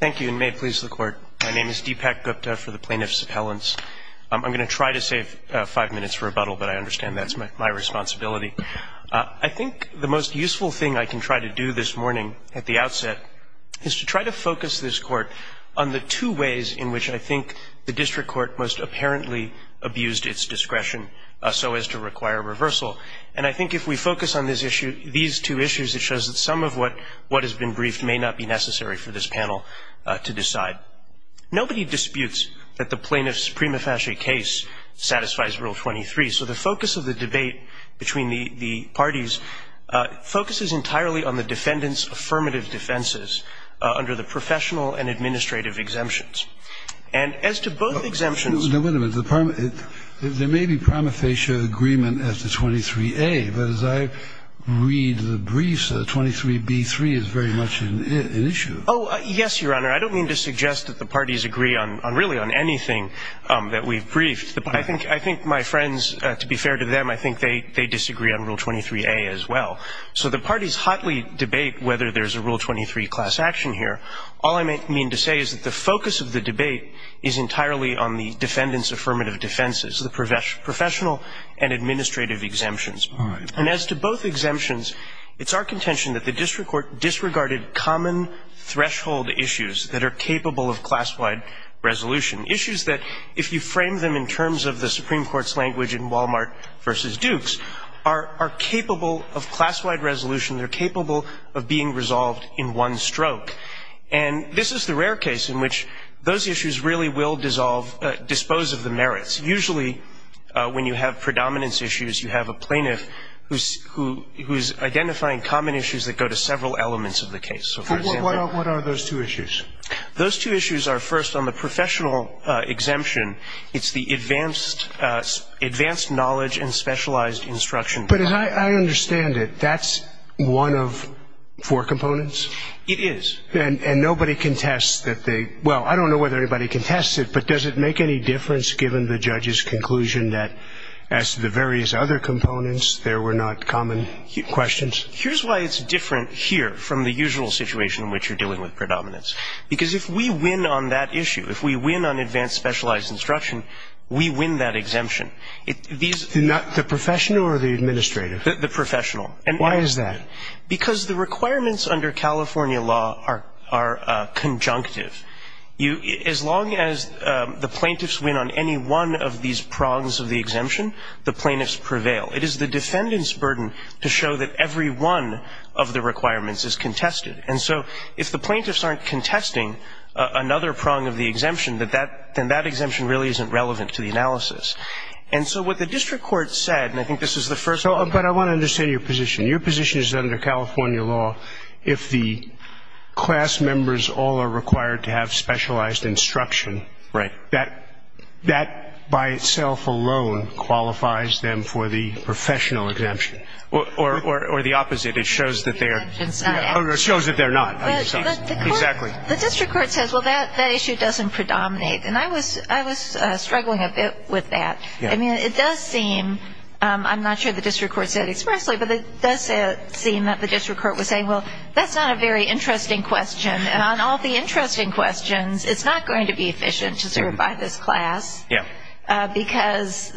Thank you, and may it please the Court. My name is Deepak Gupta for the Plaintiffs' Appellants. I'm going to try to save five minutes for rebuttal, but I understand that's my responsibility. I think the most useful thing I can try to do this morning at the outset is to try to focus this Court on the two ways in which I think the District Court most apparently abused its discretion so as to require reversal. And I think if we focus on these two issues, it shows that some of what has been briefed may not be necessary for this panel to decide. Nobody disputes that the plaintiff's prima facie case satisfies Rule 23, so the focus of the debate between the parties focuses entirely on the defendant's affirmative defenses under the professional and administrative exemptions. And as to both exemptions — There may be prima facie agreement as to 23a, but as I read the briefs, 23b-3 is very much an issue. Oh, yes, Your Honor. I don't mean to suggest that the parties agree on really on anything that we've briefed. I think my friends, to be fair to them, I think they disagree on Rule 23a as well. So the parties hotly debate whether there's a Rule 23 class action here. All I mean to say is that the focus of the debate is entirely on the defendant's affirmative defenses, the professional and administrative exemptions. And as to both exemptions, it's our contention that the District Court disregarded common threshold issues that are capable of class-wide resolution, issues that, if you frame them in terms of the Supreme Court's language in Walmart v. Dukes, are capable of class-wide resolution, they're capable of being resolved in one stroke. And this is the rare case in which those issues really will dissolve, dispose of the merits. Usually when you have predominance issues, you have a plaintiff who's identifying common issues that go to several elements of the case. What are those two issues? Those two issues are, first, on the professional exemption, it's the advanced knowledge and specialized instruction. But as I understand it, that's one of four components? It is. And nobody contests that they – well, I don't know whether anybody contests it, but does it make any difference given the judge's conclusion that, as to the various other components, there were not common questions? Here's why it's different here from the usual situation in which you're dealing with predominance. Because if we win on that issue, if we win on advanced specialized instruction, we win that exemption. The professional or the administrative? The professional. Why is that? Because the requirements under California law are conjunctive. As long as the plaintiffs win on any one of these prongs of the exemption, the plaintiffs prevail. It is the defendant's burden to show that every one of the requirements is contested. And so if the plaintiffs aren't contesting another prong of the exemption, then that exemption really isn't relevant to the analysis. And so what the district court said, and I think this is the first one. But I want to understand your position. Your position is under California law, if the class members all are required to have specialized instruction, that by itself alone qualifies them for the professional exemption. Or the opposite. It shows that they're not. Exactly. The district court says, well, that issue doesn't predominate. And I was struggling a bit with that. I mean, it does seem, I'm not sure the district court said expressly, but it does seem that the district court was saying, well, that's not a very interesting question. And on all the interesting questions, it's not going to be efficient to certify this class. Yeah. Because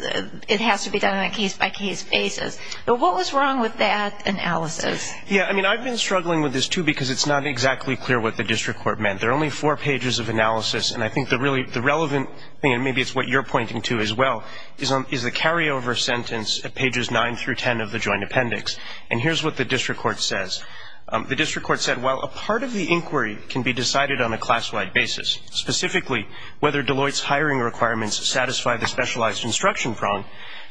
it has to be done on a case-by-case basis. But what was wrong with that analysis? Yeah, I mean, I've been struggling with this, too, because it's not exactly clear what the district court meant. There are only four pages of analysis. And I think the relevant thing, and maybe it's what you're pointing to as well, is the carryover sentence at pages 9 through 10 of the joint appendix. And here's what the district court says. The district court said, while a part of the inquiry can be decided on a class-wide basis, specifically whether Deloitte's hiring requirements satisfy the specialized instruction prong,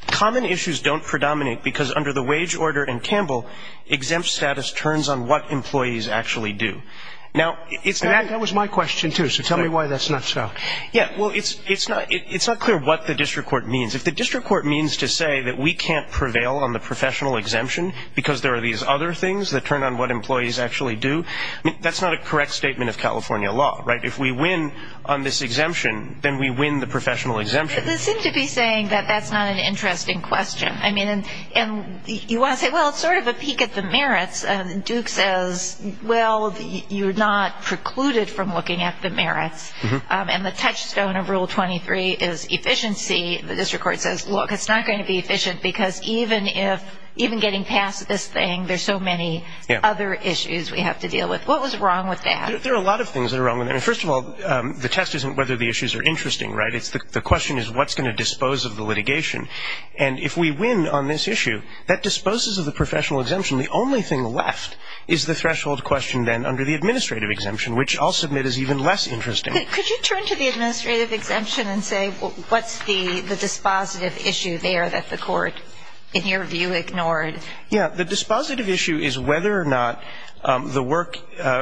common issues don't predominate because under the wage order in Campbell, exempt status turns on what employees actually do. And that was my question, too, so tell me why that's not so. Yeah, well, it's not clear what the district court means. If the district court means to say that we can't prevail on the professional exemption because there are these other things that turn on what employees actually do, that's not a correct statement of California law, right? If we win on this exemption, then we win the professional exemption. They seem to be saying that that's not an interesting question. I mean, you want to say, well, it's sort of a peek at the merits. And the touchstone of Rule 23 is efficiency. The district court says, look, it's not going to be efficient because even getting past this thing, there's so many other issues we have to deal with. What was wrong with that? There are a lot of things that are wrong with it. First of all, the test isn't whether the issues are interesting, right? The question is what's going to dispose of the litigation. And if we win on this issue, that disposes of the professional exemption. The only thing left is the threshold question then under the administrative exemption, which I'll submit is even less interesting. Could you turn to the administrative exemption and say what's the dispositive issue there that the court, in your view, ignored? Yeah, the dispositive issue is whether or not the work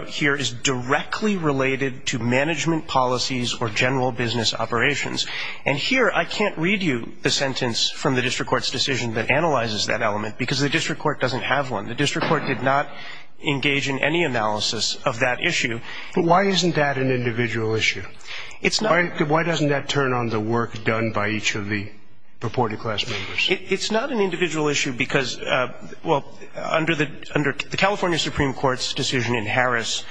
here is directly related to management policies or general business operations. And here I can't read you the sentence from the district court's decision that analyzes that element because the district court doesn't have one. The district court did not engage in any analysis of that issue. But why isn't that an individual issue? It's not. Why doesn't that turn on the work done by each of the purported class members? It's not an individual issue because, well, under the California Supreme Court's decision in Harris,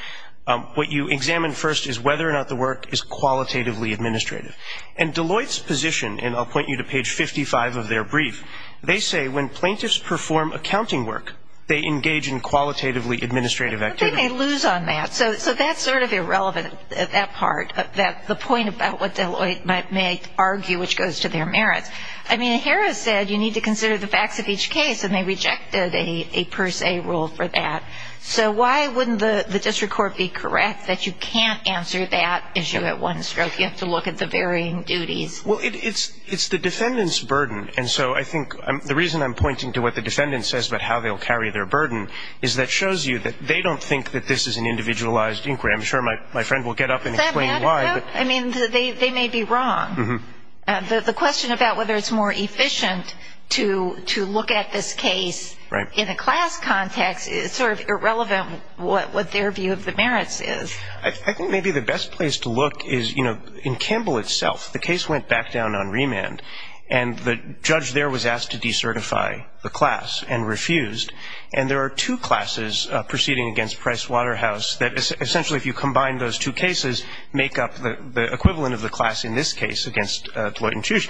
what you examine first is whether or not the work is qualitatively administrative. And Deloitte's position, and I'll point you to page 55 of their brief, they say when plaintiffs perform accounting work, they engage in qualitatively administrative activity. Well, they may lose on that. So that's sort of irrelevant at that part, the point about what Deloitte may argue which goes to their merits. I mean, Harris said you need to consider the facts of each case, and they rejected a per se rule for that. So why wouldn't the district court be correct that you can't answer that issue at one stroke? You have to look at the varying duties. Well, it's the defendant's burden. And so I think the reason I'm pointing to what the defendant says about how they'll carry their burden is that shows you that they don't think that this is an individualized inquiry. I'm sure my friend will get up and explain why. I mean, they may be wrong. The question about whether it's more efficient to look at this case in a class context is sort of irrelevant, what their view of the merits is. I think maybe the best place to look is, you know, in Campbell itself. The case went back down on remand, and the judge there was asked to decertify the class and refused. And there are two classes proceeding against Price Waterhouse that essentially, if you combine those two cases, make up the equivalent of the class in this case against Deloitte and Tusch.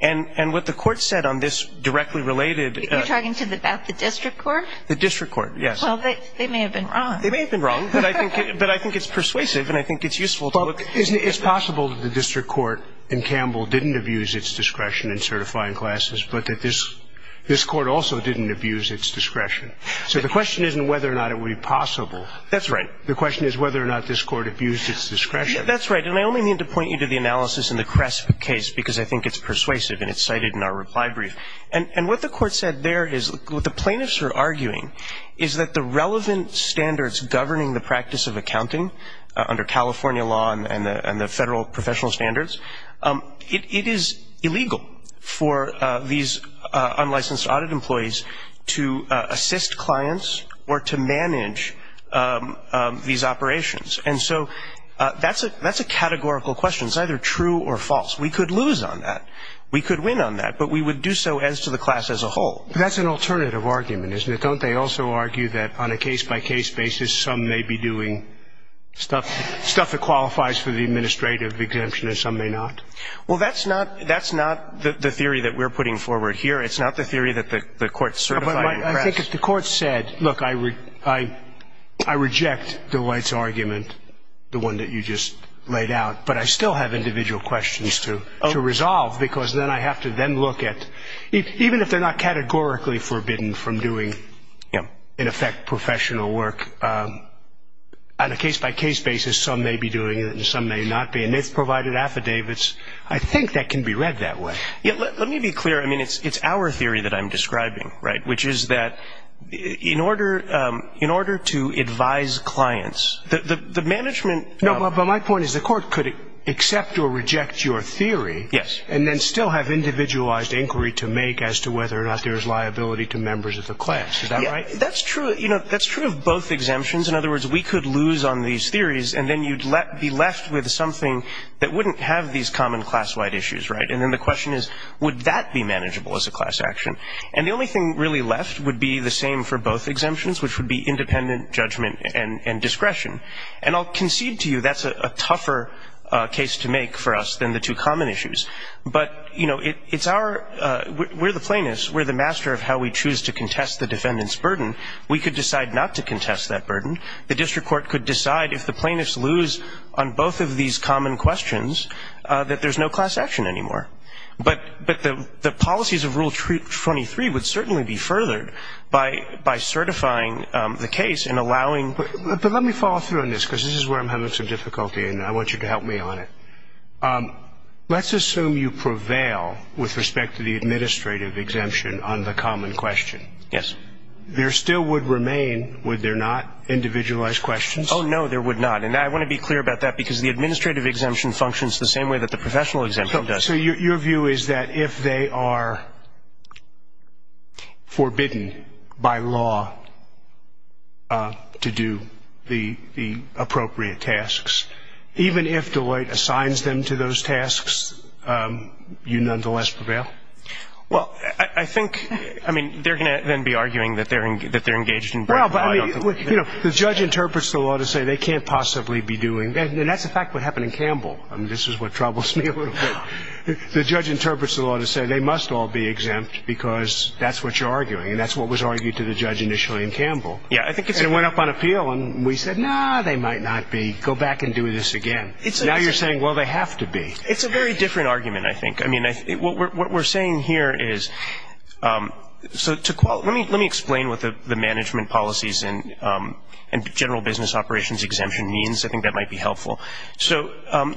And what the court said on this directly related to the --. You're talking about the district court? The district court, yes. Well, they may have been wrong. They may have been wrong, but I think it's persuasive, and I think it's useful to look. It's possible that the district court in Campbell didn't abuse its discretion in certifying classes, but that this court also didn't abuse its discretion. So the question isn't whether or not it would be possible. That's right. The question is whether or not this court abused its discretion. That's right. And I only need to point you to the analysis in the Cresp case because I think it's persuasive, and it's cited in our reply brief. And what the court said there is what the plaintiffs are arguing is that the relevant standards governing the practice of accounting under California law and the federal professional standards, it is illegal for these unlicensed audit employees to assist clients or to manage these operations. And so that's a categorical question. It's either true or false. We could lose on that. We could win on that, but we would do so as to the class as a whole. That's an alternative argument, isn't it? Don't they also argue that on a case-by-case basis, some may be doing stuff that qualifies for the administrative exemption and some may not? Well, that's not the theory that we're putting forward here. It's not the theory that the court certified in Cresp. I think if the court said, look, I reject the White's argument, the one that you just laid out, but I still have individual questions to resolve because then I have to then look at, even if they're not categorically forbidden from doing, in effect, professional work, on a case-by-case basis, some may be doing it and some may not be. And it's provided affidavits. I think that can be read that way. Let me be clear. I mean, it's our theory that I'm describing, right, which is that in order to advise clients, the management – No, but my point is the court could accept or reject your theory and then still have individualized inquiry to make as to whether or not there's liability to members of the class. Is that right? That's true of both exemptions. In other words, we could lose on these theories and then you'd be left with something that wouldn't have these common class-wide issues, right? And then the question is, would that be manageable as a class action? And the only thing really left would be the same for both exemptions, which would be independent judgment and discretion. And I'll concede to you that's a tougher case to make for us than the two common issues. But, you know, it's our – we're the plaintiffs. We're the master of how we choose to contest the defendant's burden. We could decide not to contest that burden. The district court could decide if the plaintiffs lose on both of these common questions, that there's no class action anymore. But the policies of Rule 23 would certainly be furthered by certifying the case and allowing – But let me follow through on this, because this is where I'm having some difficulty, and I want you to help me on it. Let's assume you prevail with respect to the administrative exemption on the common question. Yes. There still would remain, would there not, individualized questions? Oh, no, there would not. And I want to be clear about that, because the administrative exemption functions the same way that the professional exemption does. So your view is that if they are forbidden by law to do the appropriate tasks, even if Deloitte assigns them to those tasks, you nonetheless prevail? Well, I think – I mean, they're going to then be arguing that they're engaged in – Well, but I mean, you know, the judge interprets the law to say they can't possibly be doing – And that's the fact of what happened in Campbell. I mean, this is what troubles me a little bit. The judge interprets the law to say they must all be exempt because that's what you're arguing, and that's what was argued to the judge initially in Campbell. Yeah, I think it's – And it went up on appeal, and we said, no, they might not be. Go back and do this again. Now you're saying, well, they have to be. It's a very different argument, I think. I mean, what we're saying here is – so to – let me explain what the management policies and general business operations exemption means. I think that might be helpful. So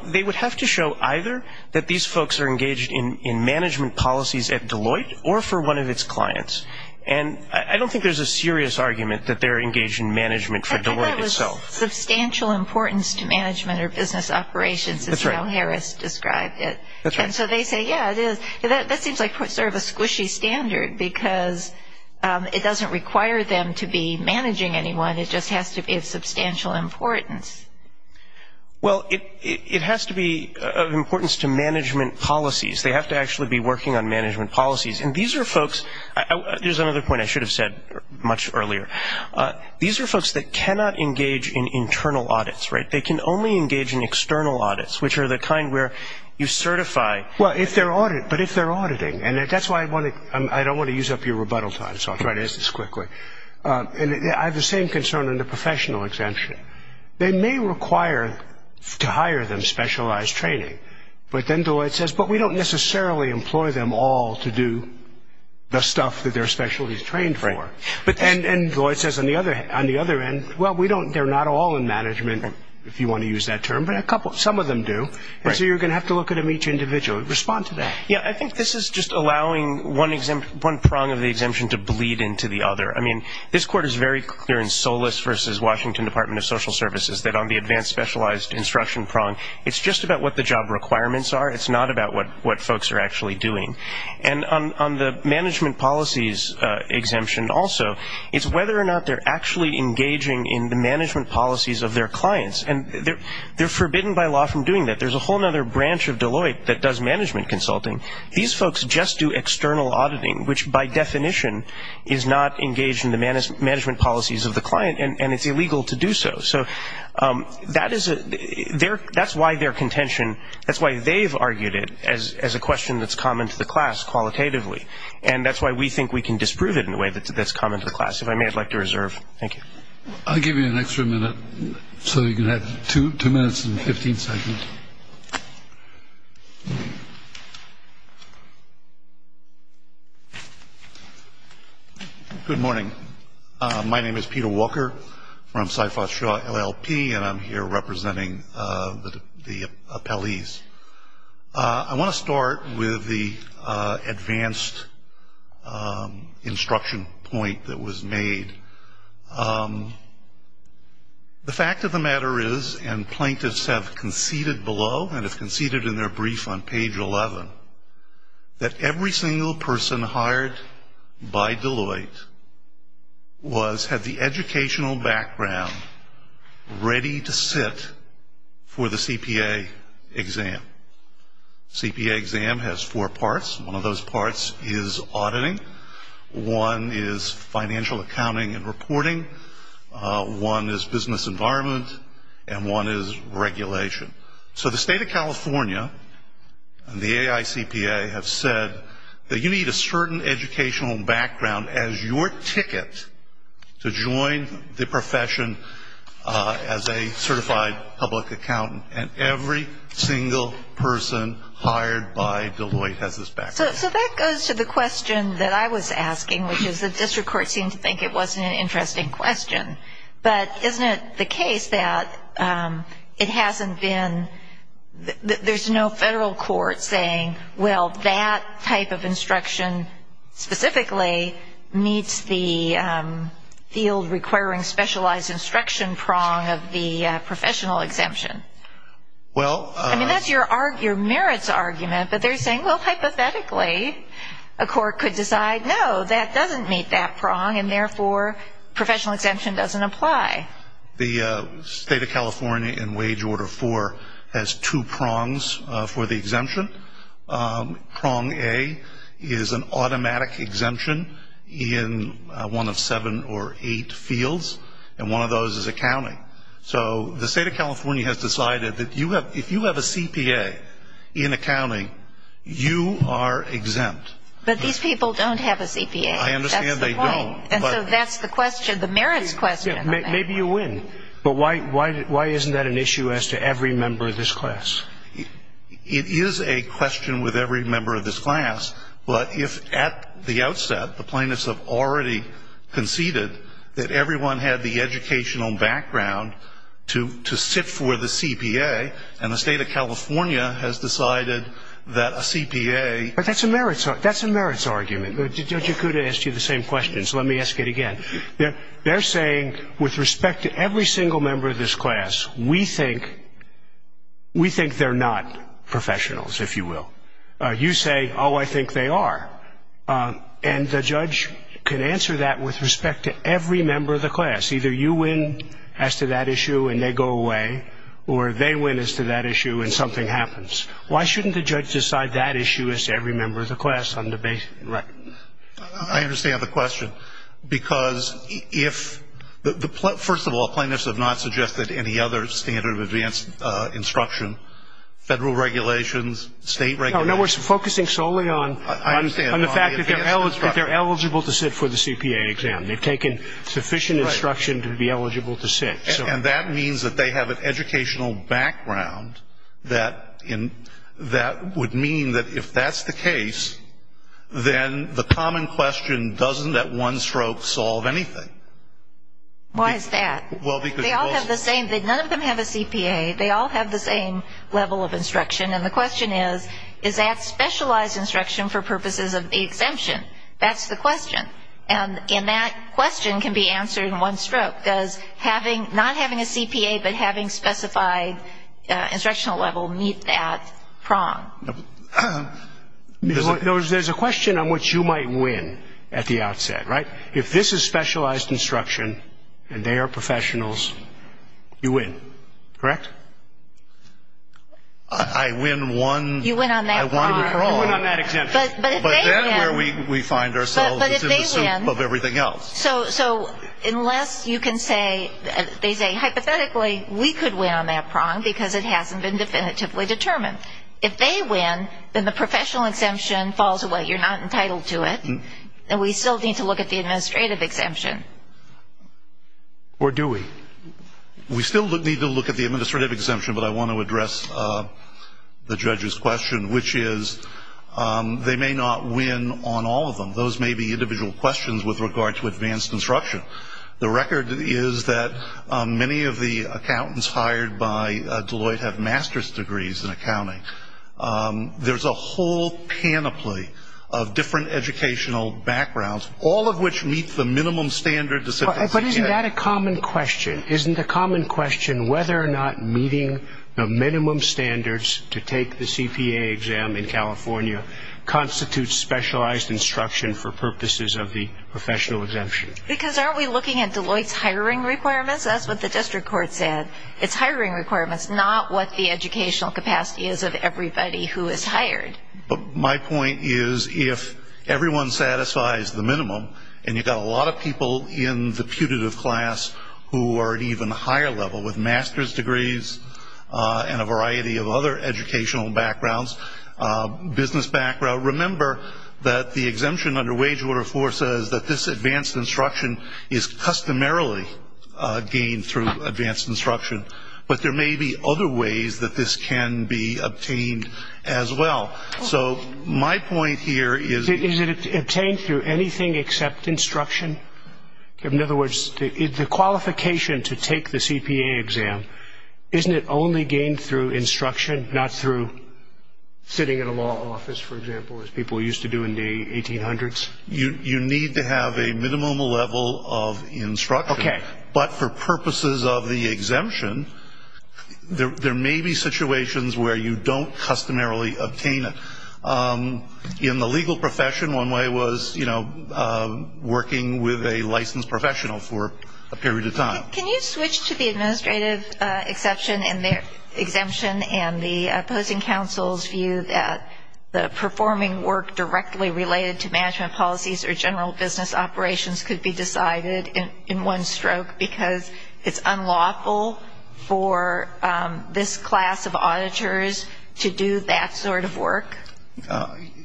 they would have to show either that these folks are engaged in management policies at Deloitte or for one of its clients. And I don't think there's a serious argument that they're engaged in management for Deloitte itself. I think that was substantial importance to management or business operations, as Al Harris described it. That's right. And so they say, yeah, it is. That seems like sort of a squishy standard because it doesn't require them to be managing anyone. It just has to be of substantial importance. Well, it has to be of importance to management policies. They have to actually be working on management policies. And these are folks – there's another point I should have said much earlier. These are folks that cannot engage in internal audits, right? They can only engage in external audits, which are the kind where you certify – Well, but if they're auditing, and that's why I don't want to use up your rebuttal time, so I'll try to answer this quickly. I have the same concern on the professional exemption. They may require to hire them specialized training, but then Deloitte says, but we don't necessarily employ them all to do the stuff that they're specially trained for. And Deloitte says on the other end, well, they're not all in management, if you want to use that term, but some of them do. And so you're going to have to look at them each individually. Respond to that. Yeah, I think this is just allowing one prong of the exemption to bleed into the other. I mean, this court is very clear in Solis versus Washington Department of Social Services that on the advanced specialized instruction prong, it's just about what the job requirements are. It's not about what folks are actually doing. And on the management policies exemption also, it's whether or not they're actually engaging in the management policies of their clients. And they're forbidden by law from doing that. There's a whole other branch of Deloitte that does management consulting. These folks just do external auditing, which by definition is not engaged in the management policies of the client, and it's illegal to do so. So that's why their contention, that's why they've argued it as a question that's common to the class qualitatively. And that's why we think we can disprove it in a way that's common to the class, if I may, I'd like to reserve. Thank you. I'll give you an extra minute, so you can have two minutes and 15 seconds. Good morning. My name is Peter Walker from Syphos Shaw LLP, and I'm here representing the appellees. I want to start with the advanced instruction point that was made. The fact of the matter is, and plaintiffs have conceded below, and have conceded in their brief on page 11, that every single person hired by Deloitte had the educational background ready to sit for the CPA exam. The CPA exam has four parts. One of those parts is auditing. One is financial accounting and reporting. One is business environment, and one is regulation. So the state of California and the AICPA have said that you need a certain educational background as your ticket to join the profession as a certified public accountant, and every single person hired by Deloitte has this background. So that goes to the question that I was asking, which is the district court seemed to think it wasn't an interesting question. But isn't it the case that it hasn't been, there's no federal court saying, well, that type of instruction specifically meets the field requiring specialized instruction prong of the professional exemption. Well. I mean, that's your merits argument, but they're saying, well, hypothetically, a court could decide, no, that doesn't meet that prong, and therefore professional exemption doesn't apply. The state of California in Wage Order 4 has two prongs for the exemption. Prong A is an automatic exemption in one of seven or eight fields, and one of those is accounting. So the state of California has decided that if you have a CPA in accounting, you are exempt. But these people don't have a CPA. I understand they don't. And so that's the question, the merits question. Maybe you win. But why isn't that an issue as to every member of this class? It is a question with every member of this class. But if at the outset the plaintiffs have already conceded that everyone had the educational background to sit for the CPA, and the state of California has decided that a CPA. But that's a merits argument. Judge Okuda asked you the same question, so let me ask it again. They're saying, with respect to every single member of this class, we think they're not professionals, if you will. You say, oh, I think they are. And the judge can answer that with respect to every member of the class. Either you win as to that issue and they go away, or they win as to that issue and something happens. Why shouldn't the judge decide that issue as to every member of the class on the basis? Right. I understand the question. Because if the plaintiffs have not suggested any other standard of advanced instruction, federal regulations, state regulations. No, we're focusing solely on the fact that they're eligible to sit for the CPA exam. They've taken sufficient instruction to be eligible to sit. And that means that they have an educational background that would mean that if that's the case, then the common question doesn't, at one stroke, solve anything. Why is that? They all have the same, none of them have a CPA, they all have the same level of instruction. And the question is, is that specialized instruction for purposes of the exemption? That's the question. And that question can be answered in one stroke. Does not having a CPA but having specified instructional level meet that prong? There's a question on what you might win at the outset, right? If this is specialized instruction and they are professionals, you win, correct? I win one. You win on that prong. I win on that exemption. But then where we find ourselves is in the soup of everything else. So unless you can say, they say, hypothetically, we could win on that prong because it hasn't been definitively determined. If they win, then the professional exemption falls away. You're not entitled to it. And we still need to look at the administrative exemption. Or do we? We still need to look at the administrative exemption, but I want to address the judge's question, which is they may not win on all of them. Those may be individual questions with regard to advanced instruction. The record is that many of the accountants hired by Deloitte have master's degrees in accounting. There's a whole panoply of different educational backgrounds, all of which meet the minimum standard. But isn't that a common question? Isn't the common question whether or not meeting the minimum standards to take the CPA exam in California constitutes specialized instruction for purposes of the professional exemption? Because aren't we looking at Deloitte's hiring requirements? That's what the district court said. It's hiring requirements, not what the educational capacity is of everybody who is hired. But my point is if everyone satisfies the minimum, and you've got a lot of people in the putative class who are at even a higher level with master's degrees and a variety of other educational backgrounds, business background, remember that the exemption under Wage Order 4 says that this advanced instruction is customarily gained through advanced instruction. But there may be other ways that this can be obtained as well. So my point here is that it's obtained through anything except instruction. In other words, the qualification to take the CPA exam, isn't it only gained through instruction, not through sitting in a law office, for example, as people used to do in the 1800s? You need to have a minimum level of instruction. But for purposes of the exemption, there may be situations where you don't customarily obtain it. In the legal profession, one way was working with a licensed professional for a period of time. Can you switch to the administrative exemption and the opposing counsel's view that the performing work directly related to management policies or general business operations could be decided in one stroke because it's unlawful for this class of auditors to do that sort of work?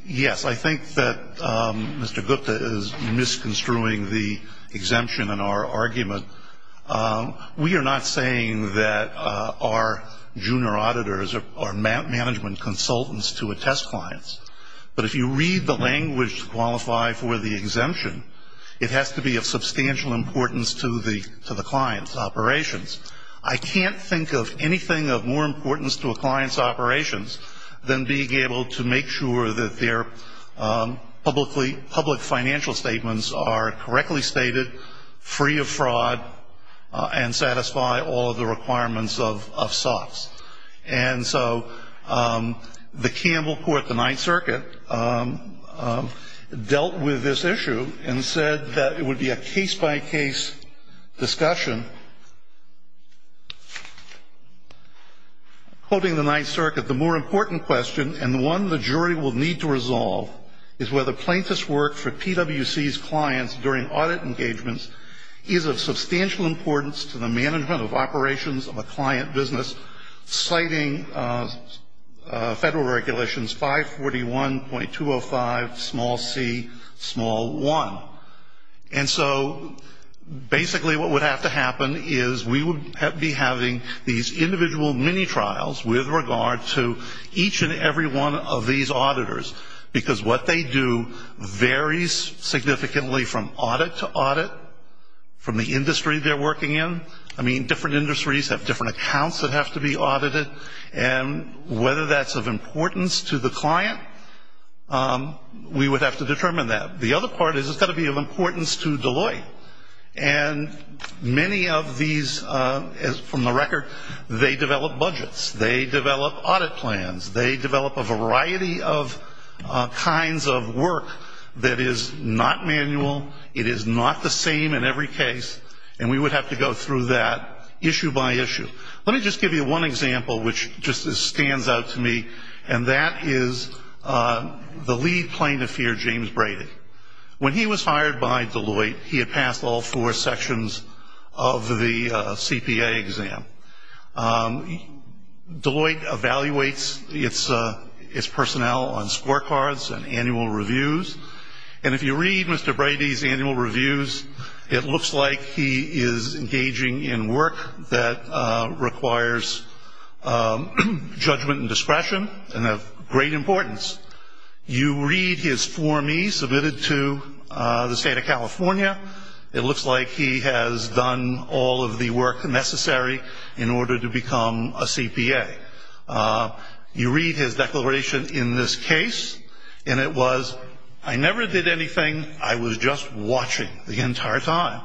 Yes, I think that Mr. Gupta is misconstruing the exemption in our argument. We are not saying that our junior auditors are management consultants to attest clients. But if you read the language to qualify for the exemption, it has to be of substantial importance to the client's operations. I can't think of anything of more importance to a client's operations than being able to make sure that their public financial statements are correctly stated, free of fraud, and satisfy all of the requirements of SOX. And so the Campbell Court, the Ninth Circuit, dealt with this issue and said that it would be a case-by-case discussion. Quoting the Ninth Circuit, the more important question and the one the jury will need to resolve is whether plaintiff's work for PWC's clients during audit engagements is of substantial importance to the management of operations of a client business, citing Federal Regulations 541.205c1. And so basically what would have to happen is we would be having these individual mini-trials with regard to each and every one of these auditors, because what they do varies significantly from audit to audit, from the industry they're working in. I mean, different industries have different accounts that have to be audited, and whether that's of importance to the client, we would have to determine that. The other part is it's got to be of importance to Deloitte. And many of these, from the record, they develop budgets, they develop audit plans, they develop a variety of kinds of work that is not manual, it is not the same in every case, and we would have to go through that issue by issue. Let me just give you one example which just stands out to me, and that is the lead plaintiff here, James Brady. When he was hired by Deloitte, he had passed all four sections of the CPA exam. Deloitte evaluates its personnel on scorecards and annual reviews, and if you read Mr. Brady's annual reviews, it looks like he is engaging in work that requires judgment and discretion and of great importance. You read his Form E submitted to the state of California. It looks like he has done all of the work necessary in order to become a CPA. You read his declaration in this case, and it was, I never did anything, I was just watching the entire time.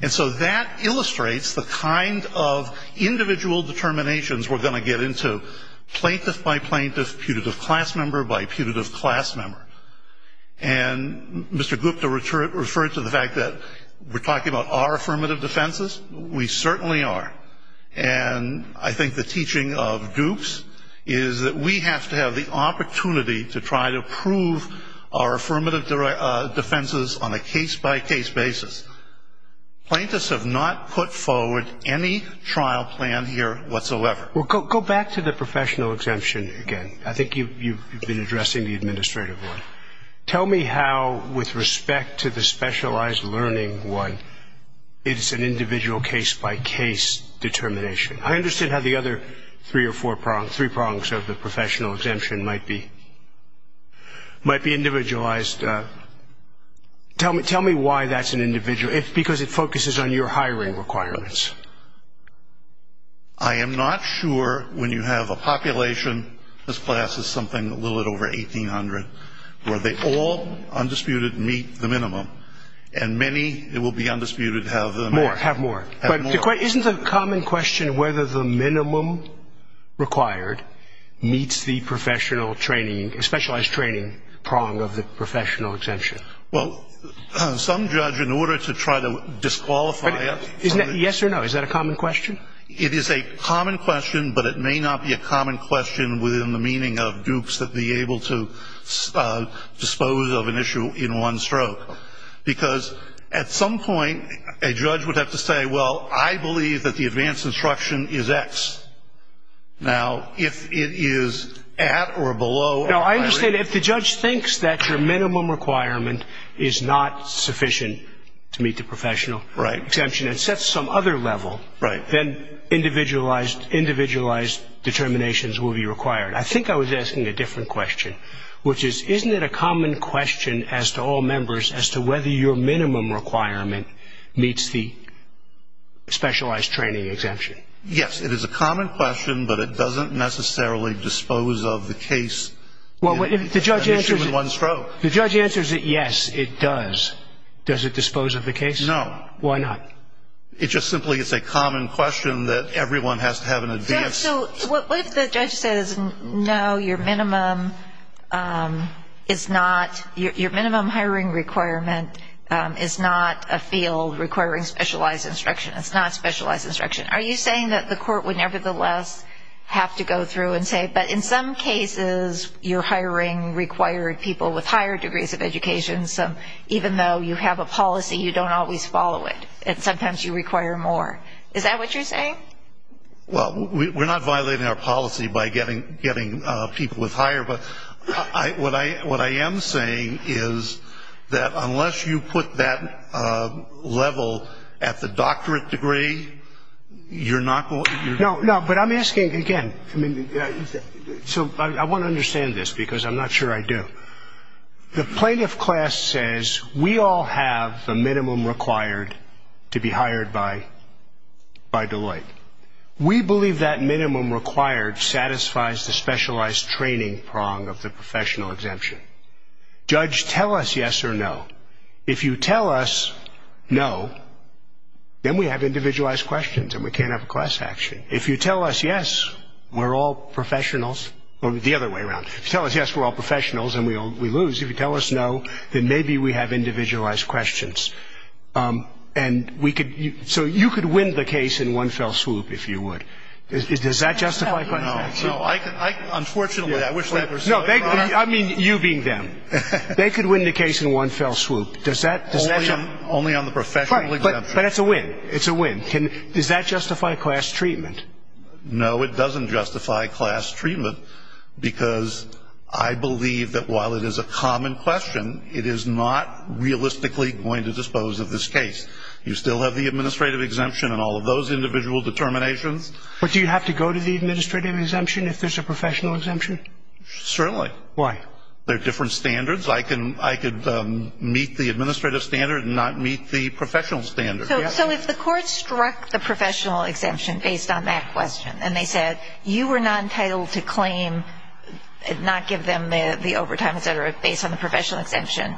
And so that illustrates the kind of individual determinations we're going to get into, plaintiff by plaintiff, putative class member by putative class member. And Mr. Gupta referred to the fact that we're talking about our affirmative defenses, we certainly are. And I think the teaching of Dukes is that we have to have the opportunity to try to prove our affirmative defenses on a case-by-case basis. Plaintiffs have not put forward any trial plan here whatsoever. Well, go back to the professional exemption again. I think you've been addressing the administrative one. Tell me how, with respect to the specialized learning one, it's an individual case-by-case determination. I understand how the other three prongs of the professional exemption might be individualized. Tell me why that's an individual, because it focuses on your hiring requirements. I am not sure when you have a population, this class is something a little over 1,800, where they all, undisputed, meet the minimum. And many, it will be undisputed, have the minimum. More, have more. But isn't the common question whether the minimum required meets the professional training, specialized training prong of the professional exemption? Well, some judge, in order to try to disqualify it. Isn't that yes or no? Is that a common question? It is a common question, but it may not be a common question within the meaning of Dukes that be able to dispose of an issue in one stroke. Because at some point, a judge would have to say, well, I believe that the advanced instruction is X. Now, if it is at or below. Now, I understand if the judge thinks that your minimum requirement is not sufficient to meet the professional exemption and sets some other level, then individualized determinations will be required. I think I was asking a different question, which is, isn't it a common question as to all members, as to whether your minimum requirement meets the specialized training exemption? Yes. It is a common question, but it doesn't necessarily dispose of the case. Well, if the judge answers it. In one stroke. If the judge answers it, yes, it does. Does it dispose of the case? No. Why not? It just simply is a common question that everyone has to have an advance. So what if the judge says, no, your minimum hiring requirement is not a field requiring specialized instruction. It's not specialized instruction. Are you saying that the court would nevertheless have to go through and say, but in some cases, you're hiring required people with higher degrees of education, so even though you have a policy, you don't always follow it, and sometimes you require more. Is that what you're saying? Well, we're not violating our policy by getting people with higher, but what I am saying is that unless you put that level at the doctorate degree, you're not going to. No, no, but I'm asking again. So I want to understand this because I'm not sure I do. The plaintiff class says we all have the minimum required to be hired by Deloitte. We believe that minimum required satisfies the specialized training prong of the professional exemption. Judge, tell us yes or no. If you tell us no, then we have individualized questions and we can't have a class action. If you tell us yes, we're all professionals. The other way around. If you tell us yes, we're all professionals and we lose, if you tell us no, then maybe we have individualized questions. So you could win the case in one fell swoop, if you would. Does that justify class action? No, no. Unfortunately, I wish that were so, Your Honor. No, I mean you being them. They could win the case in one fell swoop. Only on the professional exemption. But it's a win. It's a win. Does that justify class treatment? No, it doesn't justify class treatment, because I believe that while it is a common question, it is not realistically going to dispose of this case. You still have the administrative exemption and all of those individual determinations. But do you have to go to the administrative exemption if there's a professional exemption? Certainly. Why? There are different standards. I could meet the administrative standard and not meet the professional standard. So if the court struck the professional exemption based on that question and they said you were not entitled to claim and not give them the overtime, et cetera, based on the professional exemption,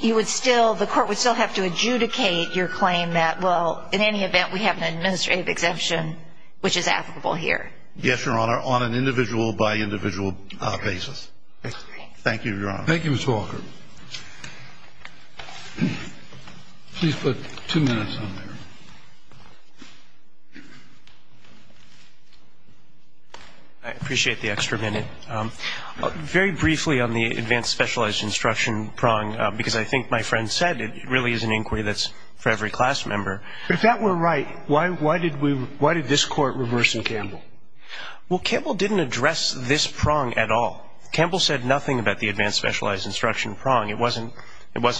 the court would still have to adjudicate your claim that, well, in any event we have an administrative exemption which is applicable here. Yes, Your Honor, on an individual by individual basis. Thank you, Your Honor. Thank you, Ms. Walker. Please put two minutes on there. I appreciate the extra minute. Very briefly on the advanced specialized instruction prong, because I think my friend said it really is an inquiry that's for every class member. If that were right, why did we why did this Court reverse Campbell? Well, Campbell didn't address this prong at all. Campbell said nothing about the advanced specialized instruction prong. It wasn't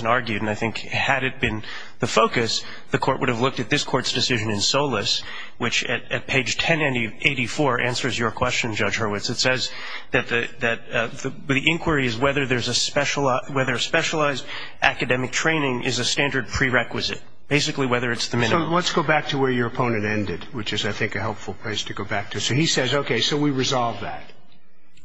argued, and I think had it been the focus, the Court would have looked at this Court's decision in Solis, which at page 1084 answers your question, Judge Hurwitz. It says that the inquiry is whether a specialized academic training is a standard prerequisite, basically whether it's the minimum. So let's go back to where your opponent ended, which is, I think, a helpful place to go back to. So he says, okay, so we resolve that.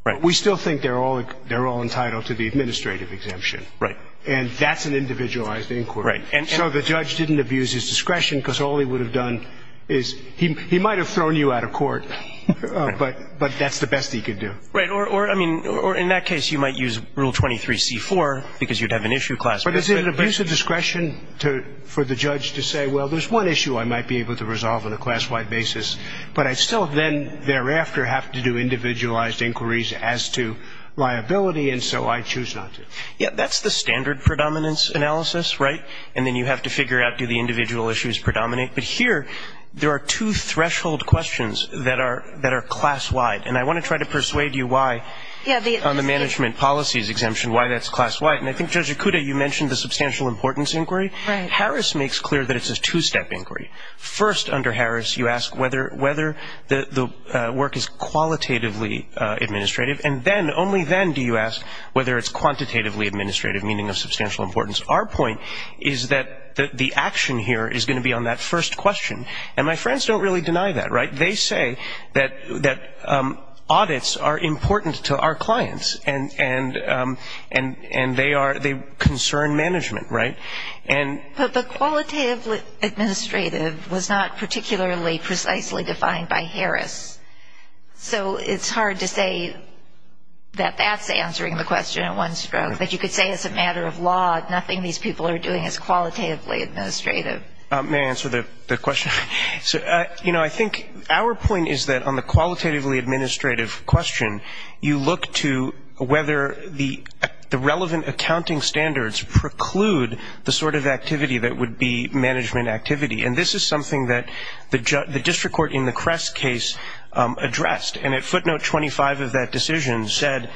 Right. We still think they're all entitled to the administrative exemption. Right. And that's an individualized inquiry. Right. So the judge didn't abuse his discretion because all he would have done is he might have thrown you out of court, but that's the best he could do. Right. Or, I mean, in that case, you might use Rule 23c-4 because you'd have an issue class member. But it's an abuse of discretion for the judge to say, well, there's one issue I might be able to resolve on a class-wide basis, but I'd still then thereafter have to do individualized inquiries as to liability, and so I choose not to. Yeah, that's the standard predominance analysis, right? And then you have to figure out, do the individual issues predominate? But here there are two threshold questions that are class-wide, and I want to try to persuade you why on the management policies exemption, why that's class-wide. And I think, Judge Okuda, you mentioned the substantial importance inquiry. Right. Harris makes clear that it's a two-step inquiry. First, under Harris, you ask whether the work is qualitatively administrative, and then, only then do you ask whether it's quantitatively administrative, meaning of substantial importance. Our point is that the action here is going to be on that first question, and my friends don't really deny that, right? They say that audits are important to our clients, and they concern management, right? But qualitatively administrative was not particularly precisely defined by Harris, so it's hard to say that that's answering the question in one stroke. But you could say as a matter of law, nothing these people are doing is qualitatively administrative. May I answer the question? You know, I think our point is that on the qualitatively administrative question, you look to whether the relevant accounting standards preclude the sort of activity that would be management activity. And this is something that the district court in the Crest case addressed. And at footnote 25 of that decision said,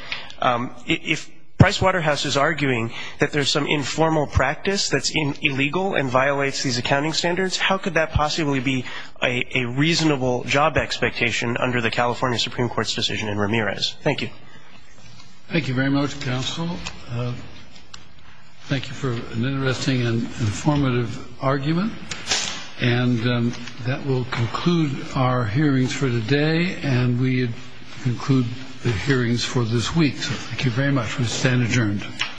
if Pricewaterhouse is arguing that there's some informal practice that's illegal and violates these accounting standards, how could that possibly be a reasonable job expectation under the California Supreme Court's decision in Ramirez? Thank you. Thank you very much, counsel. Thank you for an interesting and informative argument. And that will conclude our hearings for today, and we conclude the hearings for this week. Thank you very much. We stand adjourned.